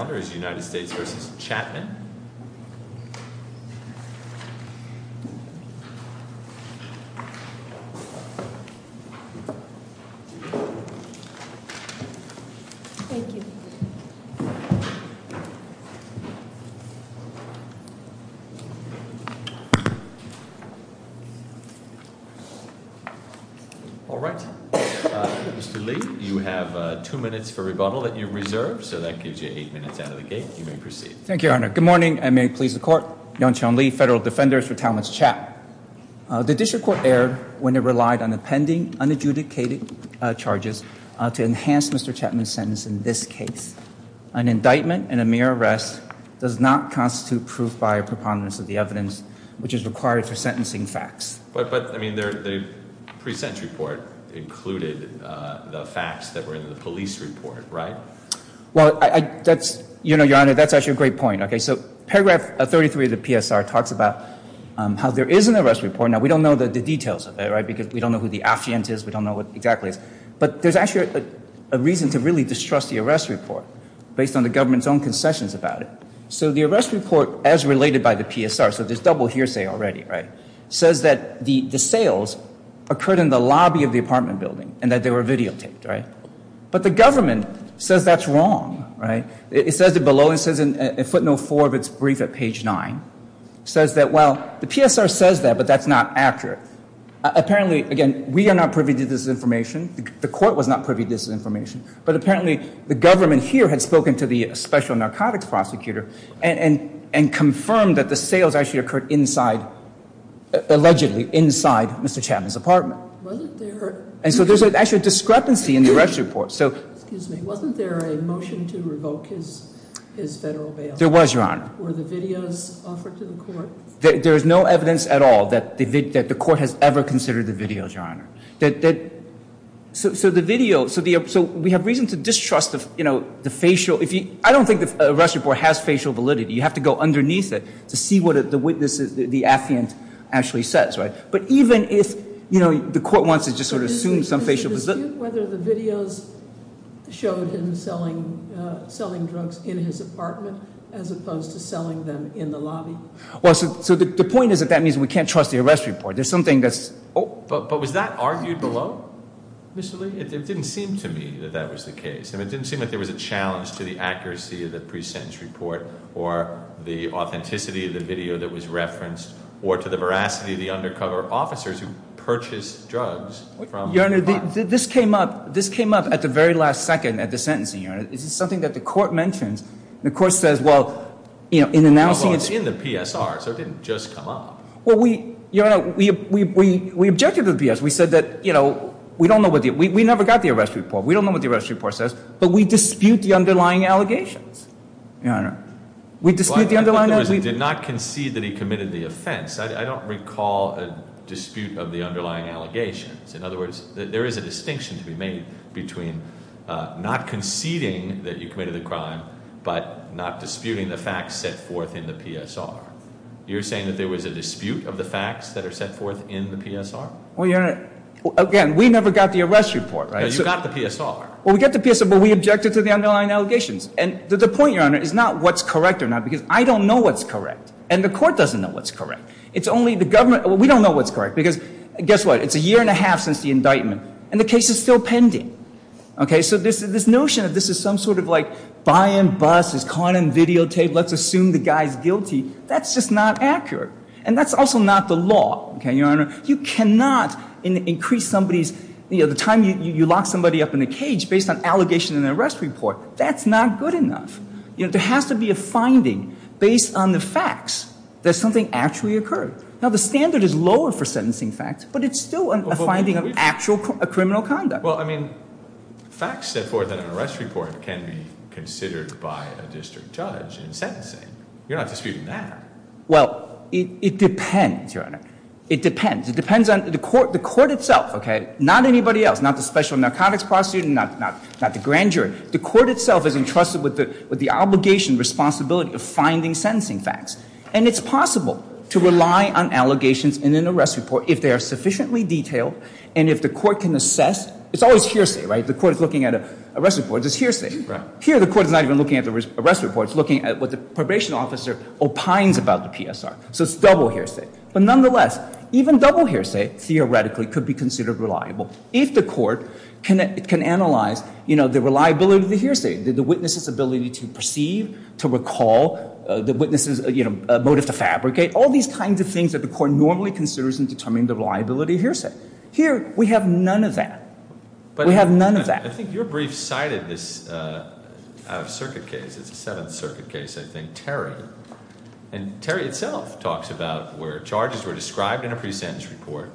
All right, Mr. Lee, you have two minutes for rebuttal that you've reserved, so that leaves you eight minutes out of the gate. You may proceed. Thank you, Your Honor. Good morning, and may it please the Court. Yongchun Lee, Federal Defenders for Talmadge Chatman. The district court erred when it relied on the pending unadjudicated charges to enhance Mr. Chatman's sentence in this case. An indictment and a mere arrest does not constitute proof by a preponderance of the evidence which is required for sentencing facts. But, I mean, the pre-sentence report included the facts that were in the police report, right? Well, I, that's, you know, Your Honor, that's actually a great point, okay? So, paragraph 33 of the PSR talks about how there is an arrest report. Now, we don't know the details of it, right? Because we don't know who the affiant is, we don't know what exactly is. But there's actually a reason to really distrust the arrest report based on the government's own concessions about it. So, the arrest report, as related by the PSR, so there's double hearsay already, right? Says that the, the sales occurred in the lobby of the apartment building and that they were videotaped, right? But the government says that's wrong, right? It says it below, it says in footnote 4 of its brief at page 9. It says that, well, the PSR says that, but that's not accurate. Apparently, again, we are not privy to this information, the court was not privy to this information, but apparently the government here had spoken to the special narcotics prosecutor and, and, and confirmed that the sales actually occurred inside, allegedly inside Mr. Chatman's apartment. And so there's actually a discrepancy in the arrest report. So, excuse me, wasn't there a motion to revoke his, his federal bail? There was, Your Honor. Were the videos offered to the court? There, there is no evidence at all that the, that the court has ever considered the videos, Your Honor. That, that, so, so the video, so the, so we have reason to distrust the, you know, the facial, if you, I don't think the arrest report has facial validity. You have to go underneath it to see what the witness, the affiant actually says, right? But even if, you know, the court wants to just sort of assume some facial. Is it a dispute whether the videos showed him selling, selling drugs in his apartment as opposed to selling them in the lobby? Well, so, so the, the point is that that means we can't trust the arrest report. There's something that's. Oh, but, but was that argued below, Mr. Lee? It didn't seem to me that that was the case. And it didn't seem like there was a challenge to the accuracy of the pre-sentence report or the authenticity of the video that was referenced or to the veracity of the undercover officers who purchased drugs from. Your Honor, this came up, this came up at the very last second at the sentencing, Your Honor. This is something that the court mentions. The court says, well, you know, in announcing it's. In the PSR, so it didn't just come up. Well, we, Your Honor, we, we, we, we objected to the PSR. We said that, you know, we don't know what the, we, we never got the arrest report. We don't know what the arrest report says, but we dispute the underlying allegations, Your Honor. We dispute the underlying. Well, I think the witness did not concede that he committed the offense. I don't recall a dispute of the underlying allegations. In other words, there is a distinction to be made between not conceding that you committed the crime, but not disputing the facts set forth in the PSR. You're saying that there was a dispute of the facts that are set forth in the PSR? Well, Your Honor, again, we never got the arrest report, right? No, you got the PSR. Well, we got the PSR, but we objected to the underlying allegations. And the point, Your Honor, is not what's correct or not, because I don't know what's correct, and the court doesn't know what's correct. It's only the government, well, we don't know what's correct, because guess what? It's a year and a half since the indictment, and the case is still pending, okay? So this, this notion that this is some sort of, like, buy and bust, it's caught on videotape, let's assume the guy's guilty, that's just not accurate. And that's also not the law, okay, Your Honor? You cannot increase somebody's, you know, the time you, you lock somebody up in a cage based on allegation and an arrest report. That's not good enough. You know, there has to be a finding based on the facts that something actually occurred. Now, the standard is lower for sentencing facts, but it's still a finding of actual criminal conduct. Well, I mean, facts set forth in an arrest report can be considered by a district judge in sentencing. You're not disputing that. Well, it depends, Your Honor. It depends. It depends on the court, the court itself, okay? Not anybody else, not the special narcotics prosecutor, not, not, not the obligation, responsibility of finding sentencing facts. And it's possible to rely on allegations in an arrest report if they are sufficiently detailed and if the court can assess, it's always hearsay, right? The court is looking at arrest reports, it's hearsay. Here, the court is not even looking at the arrest report, it's looking at what the probation officer opines about the PSR. So it's double hearsay. But nonetheless, even double hearsay, theoretically, could be considered reliable if the court can, can analyze, you know, the reliability of the hearsay, the witness's ability to perceive, to recall, the witness's, you know, motive to fabricate, all these kinds of things that the court normally considers in determining the reliability of hearsay. Here, we have none of that. We have none of that. I think your brief cited this circuit case, it's a Seventh Circuit case, I think, Terry. And Terry itself talks about where charges were described in a pre-sentence report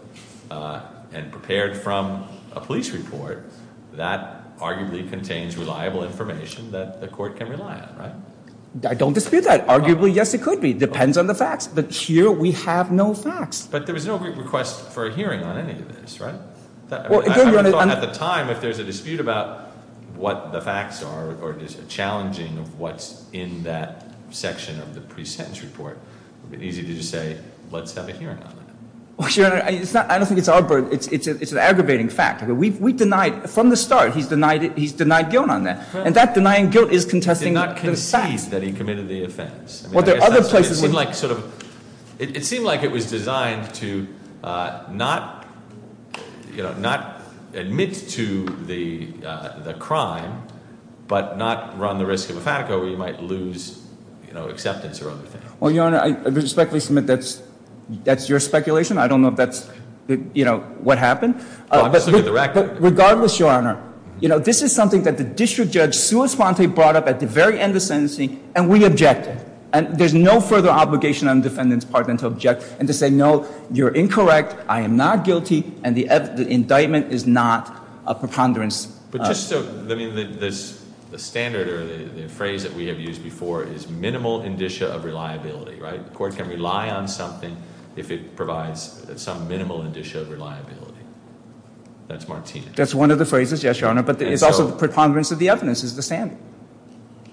and prepared from a police report that arguably contains reliable information that the court can rely on, right? I don't dispute that. Arguably, yes, it could be. Depends on the facts. But here, we have no facts. But there was no request for a hearing on any of this, right? At the time, if there's a dispute about what the facts are, or it is challenging of what's in that section of the pre-sentence report, it would be easy to just say, let's have a hearing on it. Well, Your Honor, it's not, I don't think it's our burden, it's an aggravating fact. We've denied, from the start, he's denied guilt on that. And that denying guilt is contesting the facts. He did not concede that he committed the offense. Well, there are other places... It seemed like, sort of, it seemed like it was designed to not, you know, not admit to the crime, but not run the risk of a fatico where you might lose, you know, acceptance or other things. Well, Your Honor, I respectfully submit that's your speculation. I don't know if that's, you know, what happened. Regardless, Your Honor, you know, this is something that the district judge sui sponte brought up at the very end of sentencing, and we objected. And there's no further obligation on the defendant's partner to object and to say, no, you're incorrect, I am not guilty, and the indictment is not a preponderance. But just so, I mean, this, the standard or the phrase that we have used before is minimal indicia of reliability, right? The court can rely on something if it provides some minimal indicia of reliability. That's Martinez. That's one of the phrases, yes, Your Honor, but it's also the preponderance of the evidence is the standard.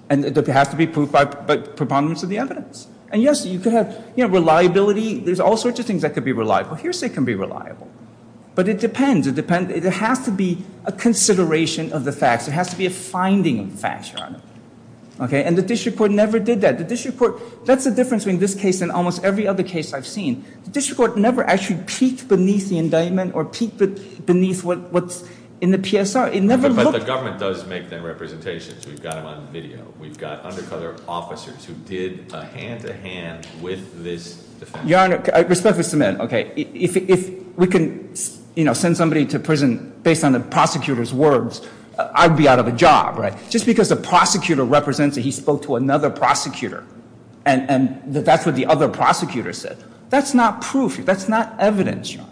And it has to be proved by preponderance of the evidence. And yes, you could have, you know, reliability, there's all sorts of things that could be reliable. Hearsay can be reliable. But it depends. It depends. It has to be a consideration of the facts. It has to be a finding of facts, Your Honor. Okay? And the district court never did that. The district court, that's the difference between this case and almost every other case I've seen. The district court never actually peeked beneath the indictment or peeked beneath what's in the PSR. It never looked. But the government does make their representations. We've got them on video. We've got undercover officers who did a hand-to-hand with this defendant. Your Honor, respectfully submit, okay, if we can, you know, send somebody to prison based on the prosecutor's words, I'd be out of a job, right? Just because the prosecutor represents that he spoke to another prosecutor and that that's what the other prosecutor said, that's not proof. That's not evidence, Your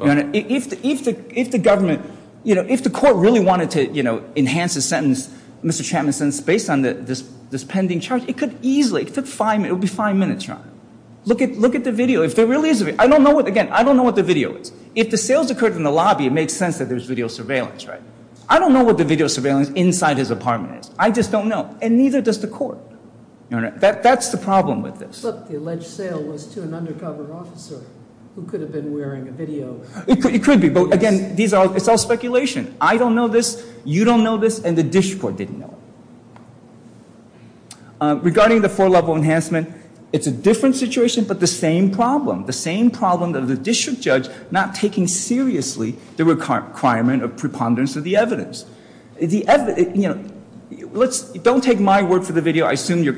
Honor. If the government, you know, if the court really wanted to, you know, enhance the sentence, Mr. Chapman's sentence, based on this pending charge, it could easily, it would be five minutes, Your Honor. Look at the video. If there really is a video, I don't know what, again, I don't know what the video is. If the sales occurred in the lobby, it makes sense that there's video surveillance, right? I don't know what the video surveillance inside his apartment is. I just don't know. And neither does the court, Your Honor. That's the problem with this. Look, the alleged sale was to an undercover officer who could have been wearing a video. It could be, but again, these are, it's all speculation. I don't know this, you don't know this, and the district court didn't know. Regarding the four-level enhancement, it's a different situation, but the same problem, the same problem that the district judge not taking seriously the requirement of preponderance of the evidence. The evidence, you know, let's, don't take my word for the video, I assume Your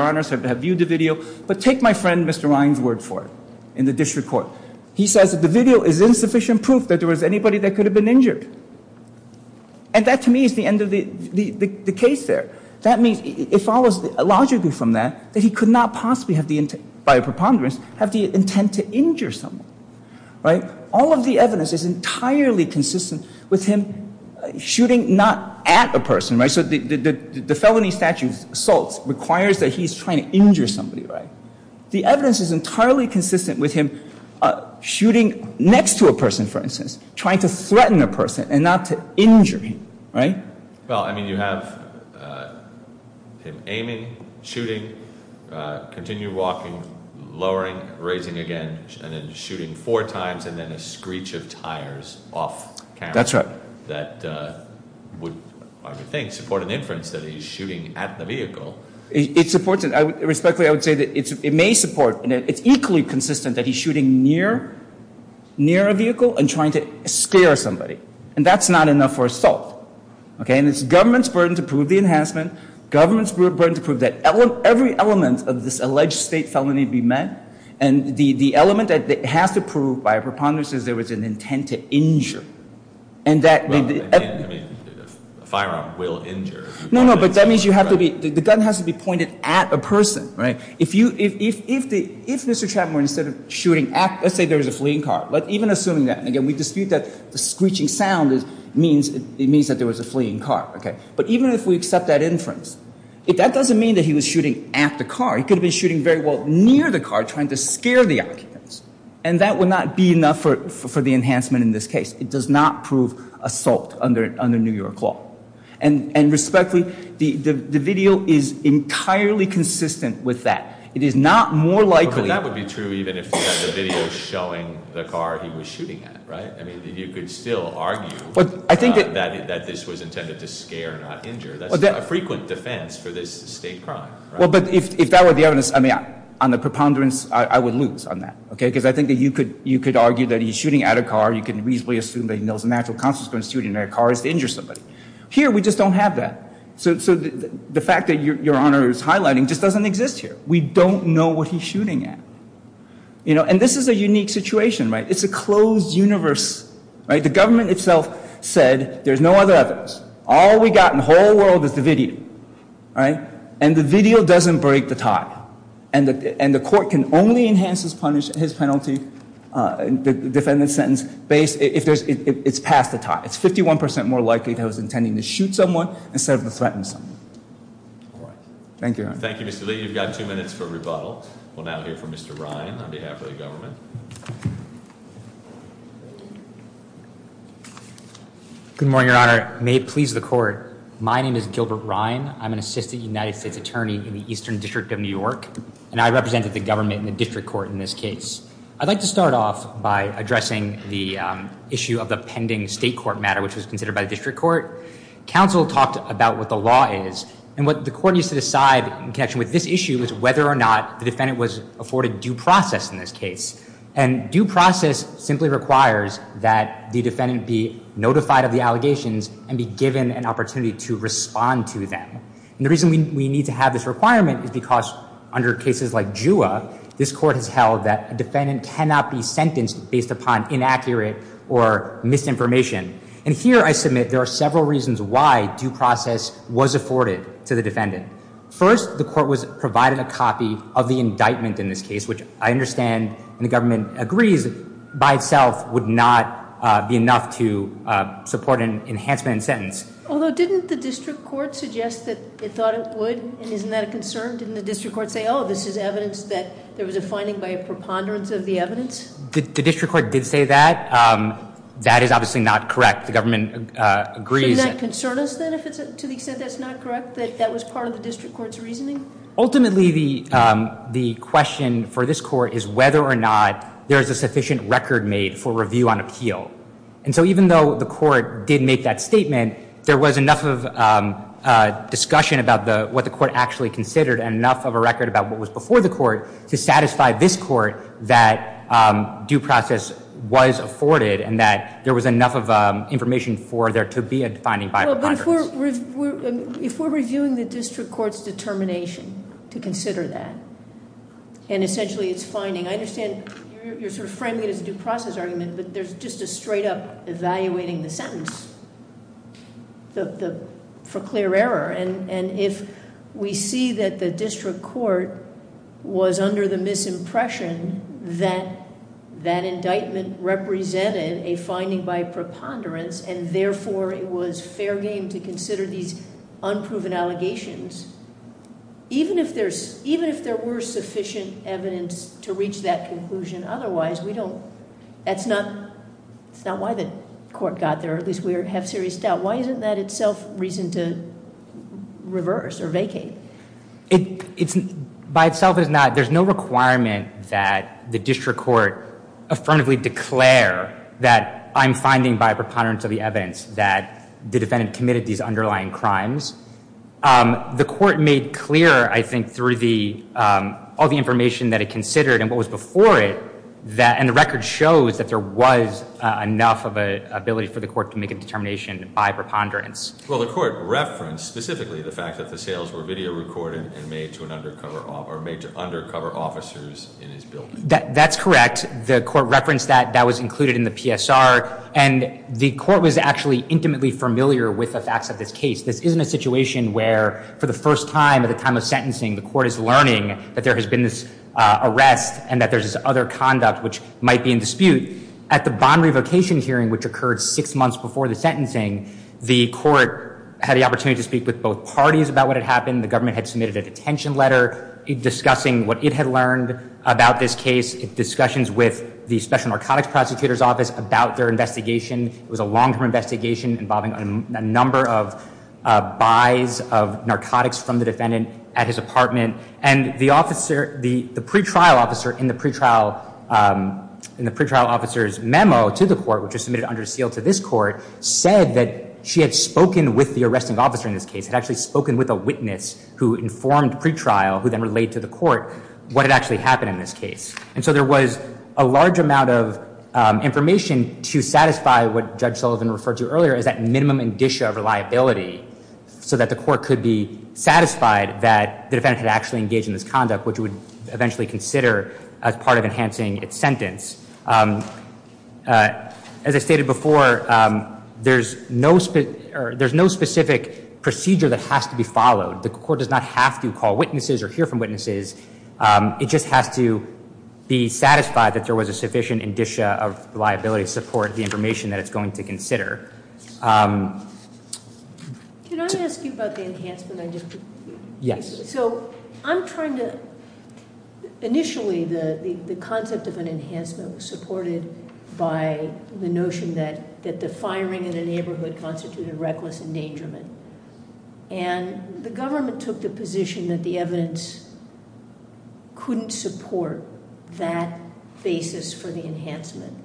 Honor's have viewed the video, but take my friend Mr. Ryan's word for it in the district court. He says that the video is insufficient proof that there was anybody that could have been injured. And that, to me, is the end of the case there. That means, it follows logically from that, that he could not possibly have the intent, by a preponderance, have the intent to injure someone, right? All of the evidence is entirely consistent with him shooting not at a person, right? So the felony statute assaults requires that he's trying to injure somebody, right? The evidence is entirely consistent with him shooting next to a person, for instance, trying to threaten a person and not to injure him, right? Well, I mean, you have him aiming, shooting, continue walking, lowering, raising again, and then shooting four times, and then a screech of tires off camera. That's right. That would, I would think, support an inference that he's shooting at the vehicle. It supports it. Respectfully, I would say that it's, it may support, and it's equally consistent that he's shooting near, near a vehicle and trying to scare somebody. And that's not enough for assault, okay? And it's government's burden to prove the enhancement, government's burden to prove that every element of this alleged state felony be met. And the, the element that has to prove, by a preponderance, is there was an intent to injure. And that, I mean, a firearm will injure. No, no, but that means you have to be, the gun has to be pointed at a person, right? If you, if, if, if Mr. Chapman, instead of shooting at, let's say there was a fleeing car. But even assuming that, again, we dispute that the screeching sound is, means, it means that there was a fleeing car, okay? But even if we accept that inference, that doesn't mean that he was shooting at the car. He could have been shooting very well near the car, trying to scare the occupants. And that would not be enough for, for the enhancement in this case. It does not prove assault under, under New York law. And, and respectfully, the, the, the video is entirely consistent with that. It is not more likely. But that would be true even if the video is showing the car he was shooting at, right? I mean, you could still argue. But I think that. That this was intended to scare, not injure. That's a frequent defense for this state crime. Well, but if, if that were the evidence, I mean, on the preponderance, I would lose on that. Okay? Because I think that you could, you could argue that he's shooting at a car. You can reasonably assume that there was a natural consequence to shooting at a car is to injure somebody. Here, we just don't have that. So, so the fact that your, your Honor is highlighting just doesn't exist here. We don't know what he's shooting at. You know, and this is a unique situation, right? It's a closed universe, right? The government itself said there's no other evidence. All we got in the whole world is the video, right? And the video doesn't break the tie. And the, and the court can only enhance his punish, his penalty, defendant's sentence based, if there's, it's past the tie. It's 51% more likely that he was intending to shoot someone instead of to threaten someone. All right. Thank you, Your Honor. Thank you, Mr. Lee. You've got two minutes for rebuttal. We'll now hear from Mr. Ryan on behalf of the government. Good morning, Your Honor. May it please the court. My name is Gilbert Ryan. I'm an assistant United States attorney in the Eastern District of New York, and I represented the government in the district court in this case. I'd like to start off by addressing the issue of the pending state court matter, which was considered by the district court. Counsel talked about what the law is and what the court needs to decide in connection with this issue is whether or not the defendant was afforded due process in this case. And due process simply requires that the defendant be notified of the allegations and be given an opportunity to respond to them. And the reason we need to have this requirement is because under cases like JUA, this court has held that a defendant cannot be sentenced based upon inaccurate or misinformation. And here I submit, there are several reasons why due process was afforded to the defendant. First, the court was provided a copy of the indictment in this case, which I understand and the government agrees by itself would not be enough to support an enhancement sentence. Although didn't the district court suggest that it thought it would? And isn't that a concern? Didn't the district court say, oh, this is evidence that there was a finding by a preponderance of the evidence? The district court did say that. That is obviously not correct. The government agrees. Does that concern us then, to the extent that's not correct, that that was part of the district court's reasoning? Ultimately, the question for this court is whether or not there is a sufficient record made for review on appeal. And so even though the court did make that statement, there was enough of discussion about what the court actually considered and enough of a record about what was before the court to satisfy this court that due process was afforded and that there was enough of information for there to be a finding by a preponderance. Well, but if we're reviewing the district court's determination to consider that, and essentially it's finding, I understand you're sort of framing it as a due process argument, but there's just a straight up evaluating the sentence for clear error. And if we see that the district court was under the misimpression that that indictment represented a finding by preponderance, and therefore it was fair game to consider these unproven allegations, even if there were sufficient evidence to reach that conclusion otherwise, that's not why the court got there. At least we have serious doubt. Why isn't that itself reason to reverse or vacate? By itself, there's no requirement that the district court affirmatively declare that I'm finding by preponderance of the evidence that the defendant committed these underlying crimes. The court made clear, I think, through all the information that it considered and what was before it, and the record shows that there was enough of an ability for the court to make a determination by preponderance. Well, the court referenced specifically the fact that the sales were video recorded and made to undercover officers in his building. That's correct. The court referenced that. That was included in the PSR. And the court was actually intimately familiar with the facts of this case. This isn't a situation where, for the first time at the time of sentencing, the court is learning that there has been this arrest and that there's this other conduct which might be in dispute. At the bond revocation hearing, which occurred six months before the sentencing, the court had the opportunity to speak with both parties about what had happened. The government had submitted a detention letter discussing what it had learned about this case, discussions with the Special Narcotics Prosecutor's Office about their investigation. It was a long-term investigation involving a number of buys of narcotics from the defendant at his apartment. And the pre-trial officer in the pre-trial officer's memo to the court, which was submitted under seal to this court, said that she had spoken with the arresting officer in this case, had actually spoken with a witness who informed pre-trial, who then relayed to the court, what had actually happened in this case. And so there was a large amount of information to satisfy what Judge Sullivan referred to earlier as that minimum indicia of reliability so that the court could be satisfied that the defendant had actually engaged in this conduct, which would eventually consider as part of enhancing its sentence. As I stated before, there's no specific procedure that has to be followed. The court does not have to call witnesses or hear from witnesses. It just has to be satisfied that there was a sufficient indicia of reliability to support the information that it's going to consider. Can I ask you about the enhancement? Yes. So I'm trying to, initially the concept of an enhancement was supported by the notion that the firing in a neighborhood constituted reckless endangerment. And the government took the position that the evidence couldn't support that basis for the enhancement.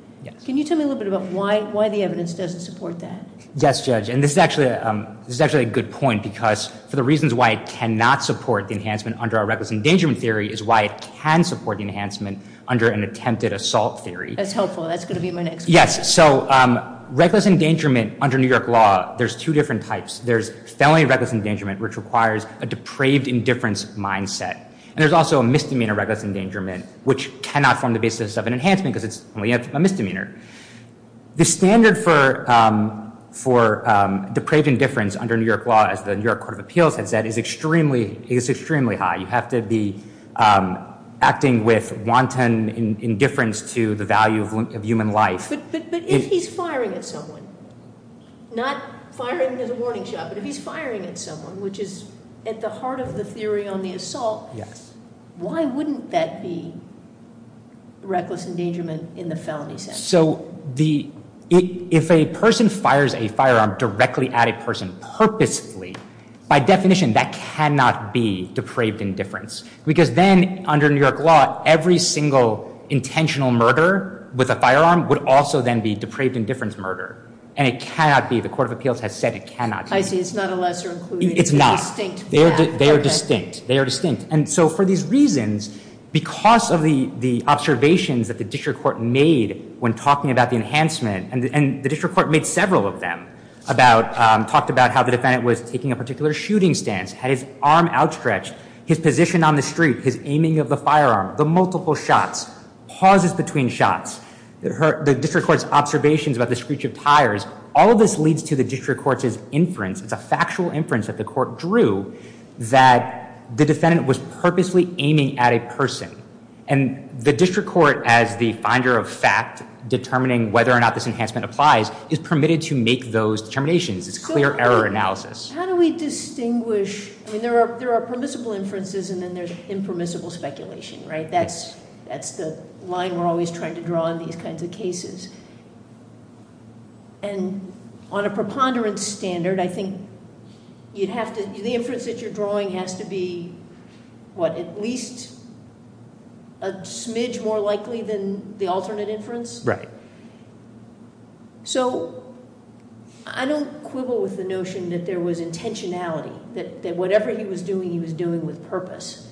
Can you tell me a little bit about why the evidence doesn't support that? Yes, Judge. And this is actually a good point because for the reasons why it cannot support the enhancement under our reckless endangerment theory is why it can support the enhancement under an attempted assault theory. That's helpful. That's going to be my next one. So reckless endangerment under New York law, there's two different types. There's felony reckless endangerment, which requires a depraved indifference mindset. And there's also a misdemeanor reckless endangerment, which cannot form the basis of an enhancement because it's only a misdemeanor. The standard for depraved indifference under New York law, as the New York Court of Appeals has said, is extremely high. You have to be acting with indifference to the value of human life. But if he's firing at someone, not firing as a warning shot, but if he's firing at someone, which is at the heart of the theory on the assault, why wouldn't that be reckless endangerment in the felony sense? So if a person fires a firearm directly at a person purposely, by definition, that cannot be depraved indifference because then under New York law, every single intentional murder with a firearm would also then be depraved indifference murder. And it cannot be. The Court of Appeals has said it cannot be. I see. It's not a lesser included. It's not. They are distinct. They are distinct. And so for these reasons, because of the observations that the district court made when talking about the enhancement, and the district court made several of them, talked about how the defendant was taking a particular shooting stance, had his arm outstretched, his position on the street, his aiming of the firearm, the multiple shots, pauses between shots, the district court's observations about the screech of tires, all of this leads to the district court's inference. It's a factual inference that the court drew that the defendant was purposely aiming at a person. And the district court, as the finder of fact, determining whether or not this enhancement applies, is permitted to those determinations. It's clear error analysis. How do we distinguish? I mean, there are permissible inferences and then there's impermissible speculation, right? That's the line we're always trying to draw in these kinds of cases. And on a preponderance standard, I think the inference that you're drawing has to be, what, at least a smidge more likely than the alternate inference? Right. So I don't quibble with the notion that there was intentionality, that whatever he was doing, he was doing with purpose.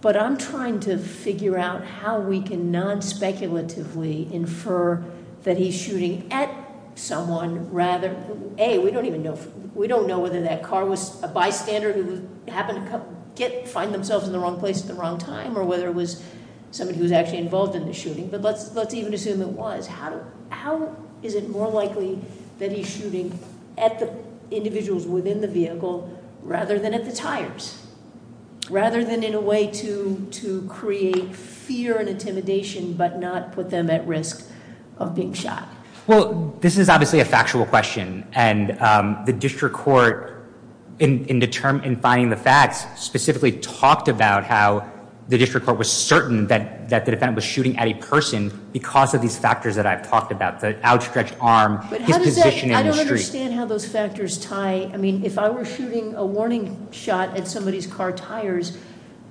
But I'm trying to figure out how we can non-speculatively infer that he's shooting at someone rather, A, we don't even know, we don't know whether that car was a bystander who happened to find themselves in the wrong place at the wrong time or whether it was somebody who was actually involved in the shooting. But let's even assume it was. How is it more likely that he's shooting at the individuals within the vehicle rather than at the tires? Rather than in a way to create fear and intimidation but not put them at risk of being shot? Well, this is obviously a factual question. And the district court, in finding the facts, specifically talked about how the district court was certain that the defendant was shooting at a person because of these factors that I've talked about. The outstretched arm, his position in the street. I don't understand how those factors tie. I mean, if I were shooting a warning shot at somebody's car tires,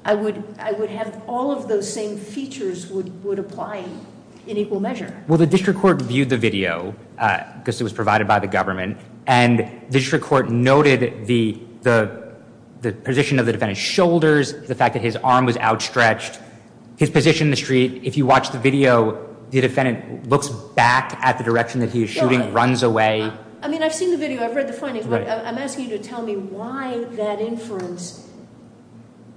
I would have all of those same features would apply in equal measure. Well, the district court viewed the video because it was provided by the government. And the district court noted the position of the defendant's shoulders, the fact that his arm was outstretched, his position in the street. If you watch the video, the defendant looks back at the direction that he is shooting, runs away. I mean, I've seen the video, I've read the findings, but I'm asking you to tell me why that inference,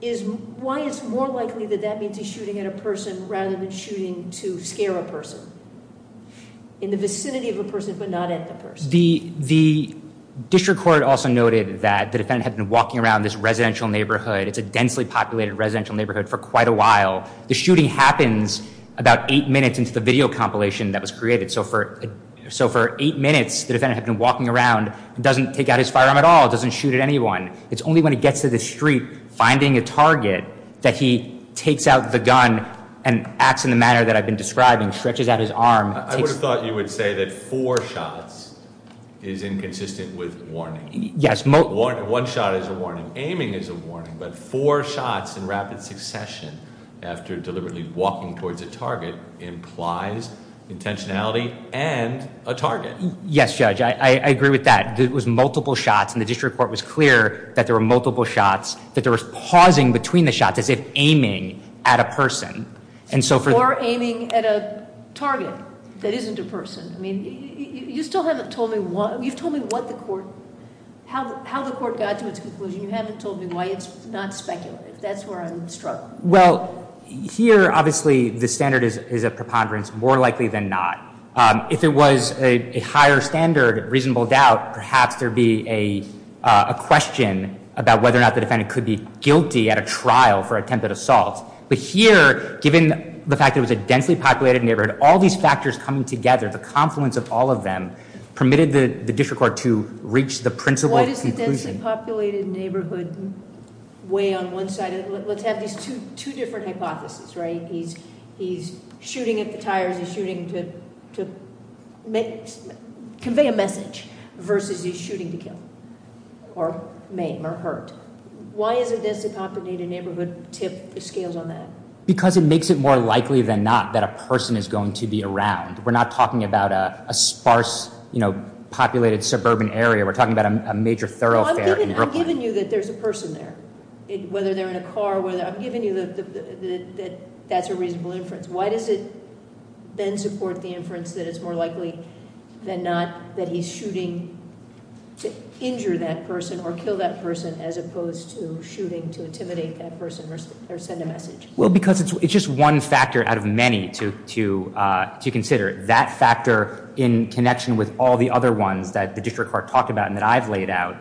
why it's more likely that that means he's shooting at a person rather than shooting to scare a person in the vicinity of a The district court also noted that the defendant had been walking around this residential neighborhood. It's a densely populated residential neighborhood for quite a while. The shooting happens about eight minutes into the video compilation that was created. So for eight minutes, the defendant had been walking around, doesn't take out his firearm at all, doesn't shoot at anyone. It's only when he gets to the street finding a target that he takes out the gun and acts in the manner that I've been describing, stretches out his arm. I would have thought you would say that four shots is inconsistent with warning. Yes. One shot is a warning. Aiming is a warning, but four shots in rapid succession after deliberately walking towards a target implies intentionality and a target. Yes, Judge, I agree with that. It was multiple shots and the district court was clear that there were multiple shots, that there was pausing between the shots as if aiming at a person. Or aiming at a target that isn't a person. I mean, you still haven't told me what, you've told me what the court, how the court got to its conclusion. You haven't told me why it's not speculative. That's where I'm struggling. Well, here obviously the standard is a preponderance, more likely than not. If it was a higher standard, reasonable doubt, perhaps there'd be a question about whether or not the defendant could be guilty at a trial for attempted assault. But here, given the fact it was a densely populated neighborhood, all these factors coming together, the confluence of all of them, permitted the district court to reach the principal conclusion. Why does the densely populated neighborhood weigh on one side? Let's have these two different hypotheses, right? He's shooting at the tires, he's shooting to convey a message versus he's shooting to kill or maim or hurt. Why is a densely populated neighborhood tip, scales on that? Because it makes it more likely than not that a person is going to be around. We're not talking about a sparse, you know, populated suburban area. We're talking about a major thoroughfare. I'm giving you that there's a person there, whether they're in a car, whether, I'm giving you that that's a reasonable inference. Why does it then support the inference that it's more likely than not that he's shooting to injure that person or kill that person as opposed to shooting to intimidate that person or send a message? Well, because it's just one factor out of many to consider. That factor, in connection with all the other ones that the district court talked about and that I've laid out,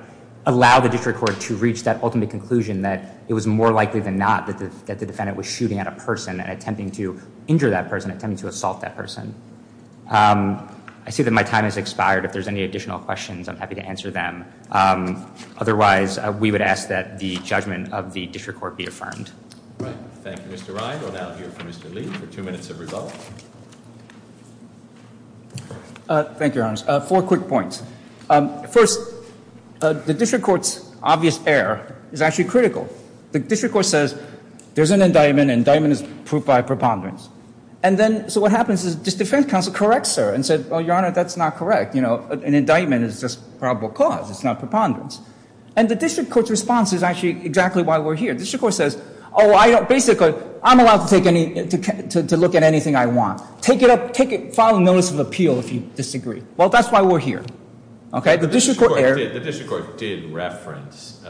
allow the district court to reach that ultimate conclusion that it was more likely than not that the defendant was shooting at a person and attempting to injure that person, attempting to assault that person. I see that my time has expired. If there's any additional questions, I'm happy to answer them. Otherwise, we would ask that the judgment of the district court be affirmed. Thank you, Mr. Ryan. We'll now hear from Mr. Lee for two minutes of rebuttal. Thank you, Your Honor. Four quick points. First, the district court's obvious error is actually critical. The district court says there's an indictment. Indictment is proved by preponderance. And then, so what happens is this defense counsel corrects her and said, oh, Your Honor, that's not correct. You know, an indictment is just probable cause. It's not preponderance. And the district court's response is actually exactly why we're here. The district court says, oh, I don't, basically, I'm allowed to take any, to look at anything I want. Take it up, take it, file a notice of appeal if you disagree. Well, that's why we're here, okay? The district court did reference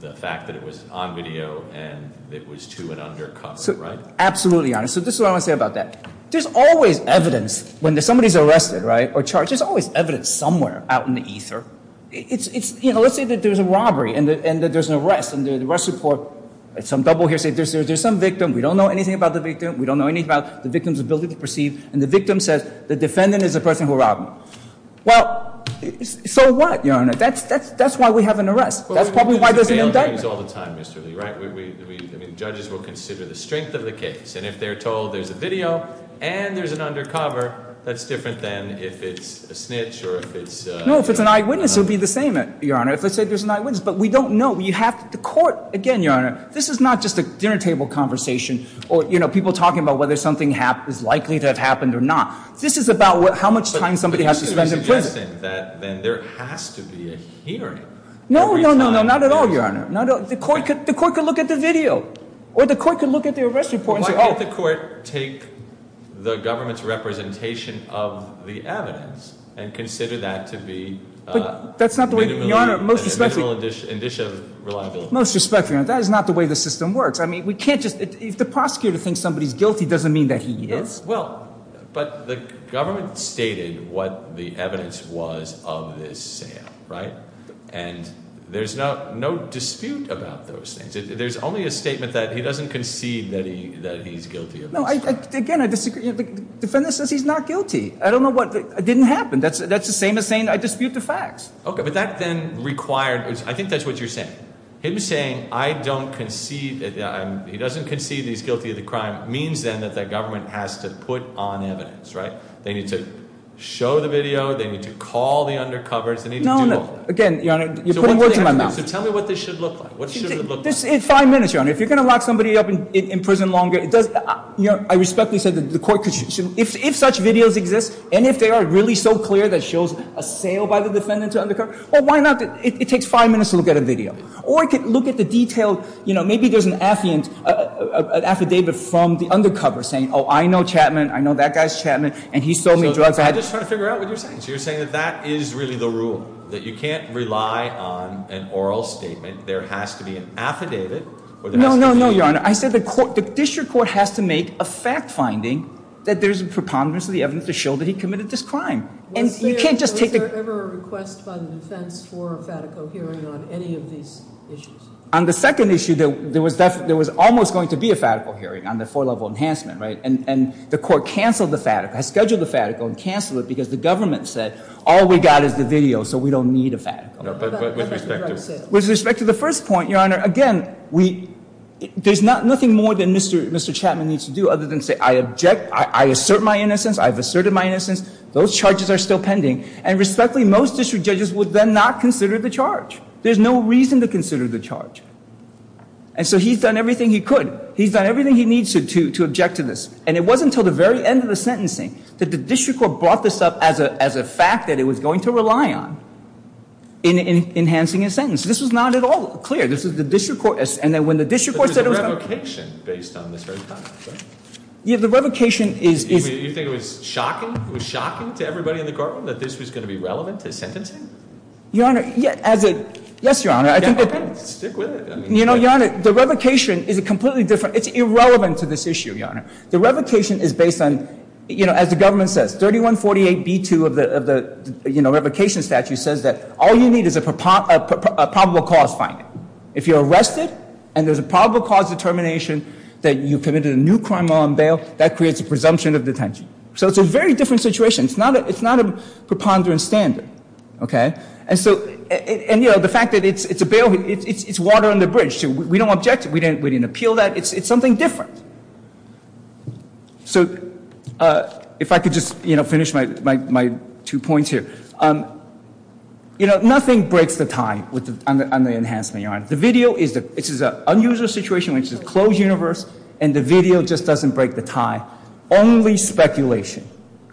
the fact that it was on video and it was to and under cover, right? Absolutely, Your Honor. So this is what I want to say about that. There's always evidence when somebody's arrested, right, or charged. There's always evidence somewhere out in the ether. It's, you know, let's say that there's a robbery and that there's an arrest. And the arrest report, some double hearsay, there's some victim. We don't know anything about the victim. We don't know anything about the victim's ability to perceive. And the victim says the defendant is the person who robbed them. Well, so what, that's why we have an arrest. That's probably why there's an indictment. Well, we do these bail hearings all the time, Mr. Lee, right? I mean, judges will consider the strength of the case. And if they're told there's a video and there's an undercover, that's different than if it's a snitch or if it's a... No, if it's an eyewitness, it would be the same, Your Honor. If I said there's an eyewitness, but we don't know. You have to, the court, again, Your Honor, this is not just a dinner table conversation or, you know, people talking about whether something is likely to have happened or not. This is about how much time somebody has to spend in prison. But you're a hearing. No, no, no, no, not at all, Your Honor. The court could look at the video or the court could look at the arrest report and say... Why can't the court take the government's representation of the evidence and consider that to be... But that's not the way, Your Honor, most respectfully... Most respectfully, Your Honor, that is not the way the system works. I mean, we can't just, if the prosecutor thinks somebody's guilty, doesn't mean that he is. Well, but the government stated what the evidence was of this sale, right? And there's no dispute about those things. There's only a statement that he doesn't concede that he's guilty of this crime. No, again, the defendant says he's not guilty. I don't know what... It didn't happen. That's the same as saying I dispute the facts. Okay, but that then required... I think that's what you're saying. Him saying, I don't concede that... He doesn't concede that he's guilty of the crime means then that government has to put on evidence, right? They need to show the video. They need to call the undercovers. They need to do all that. No, no. Again, Your Honor, you're putting words in my mouth. So tell me what this should look like. What should it look like? Five minutes, Your Honor. If you're going to lock somebody up in prison longer, it does... I respectfully said that the court could... If such videos exist and if they are really so clear that shows a sale by the defendant to undercover, well, why not? It takes five minutes to look at a video. Or it could look at the detailed, you know, maybe there's an affidavit from the undercover saying, oh, I know Chapman. I know that guy's Chapman and he sold me drugs. I'm just trying to figure out what you're saying. So you're saying that that is really the rule. That you can't rely on an oral statement. There has to be an affidavit. No, no, no, Your Honor. I said the court, the district court has to make a fact finding that there's a preponderance of the evidence to show that he committed this crime. And you can't just take the... Was there ever a request by the defense for a Fatico hearing on any of these issues? On the second issue, there was almost going to be a Fatico hearing on the four-level enhancement, right? And the court canceled the Fatico. It scheduled the Fatico and canceled it because the government said, all we got is the video, so we don't need a Fatico. With respect to the first point, Your Honor, again, there's nothing more than Mr. Chapman needs to do other than say, I object. I assert my innocence. I've asserted my innocence. Those charges are still pending. And respectfully, most district judges would then not consider the charge. There's no reason to consider the charge. And so he's done everything he could. He's done everything he needs to object to this. And it wasn't until the very end of the sentencing that the district court brought this up as a fact that it was going to rely on in enhancing his sentence. This was not at all clear. This is the district court... And then when the district court said it was going to... But there's a revocation based on this very fact, right? Yeah, the revocation is... You think it was shocking? It was shocking to everybody in the courtroom that this was going to be relevant to sentencing? Your Honor, as a... Yes, Your Honor. I think it depends. Stick with it. You know, Your Honor, the revocation is a completely different... It's irrelevant to this issue, Your Honor. The revocation is based on, you know, as the government says, 3148b2 of the of the, you know, revocation statute says that all you need is a probable cause finding. If you're arrested and there's a probable cause determination that you committed a new crime while on bail, that creates a presumption of detention. So it's a very different situation. It's not a preponderant standard, okay? And so... And, you know, the fact that it's a bail... It's water under bridge, too. We don't object. We didn't appeal that. It's something different. So if I could just, you know, finish my two points here. You know, nothing breaks the tie on the enhancement, Your Honor. The video is... This is an unusual situation, which is a closed universe, and the video just doesn't break the tie. Only speculation.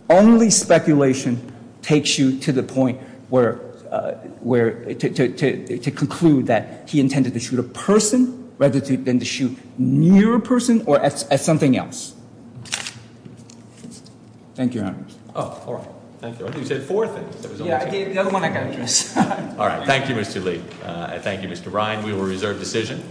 Only speculation takes you to the point where, to conclude that he intended to shoot a person rather than to shoot near a person or at something else. Thank you, Your Honor. Oh, all right. Thank you. I think you said four things. Yeah, the other one I got. All right. Thank you, Mr. Lee. Thank you, Mr. Ryan. We will reserve decision.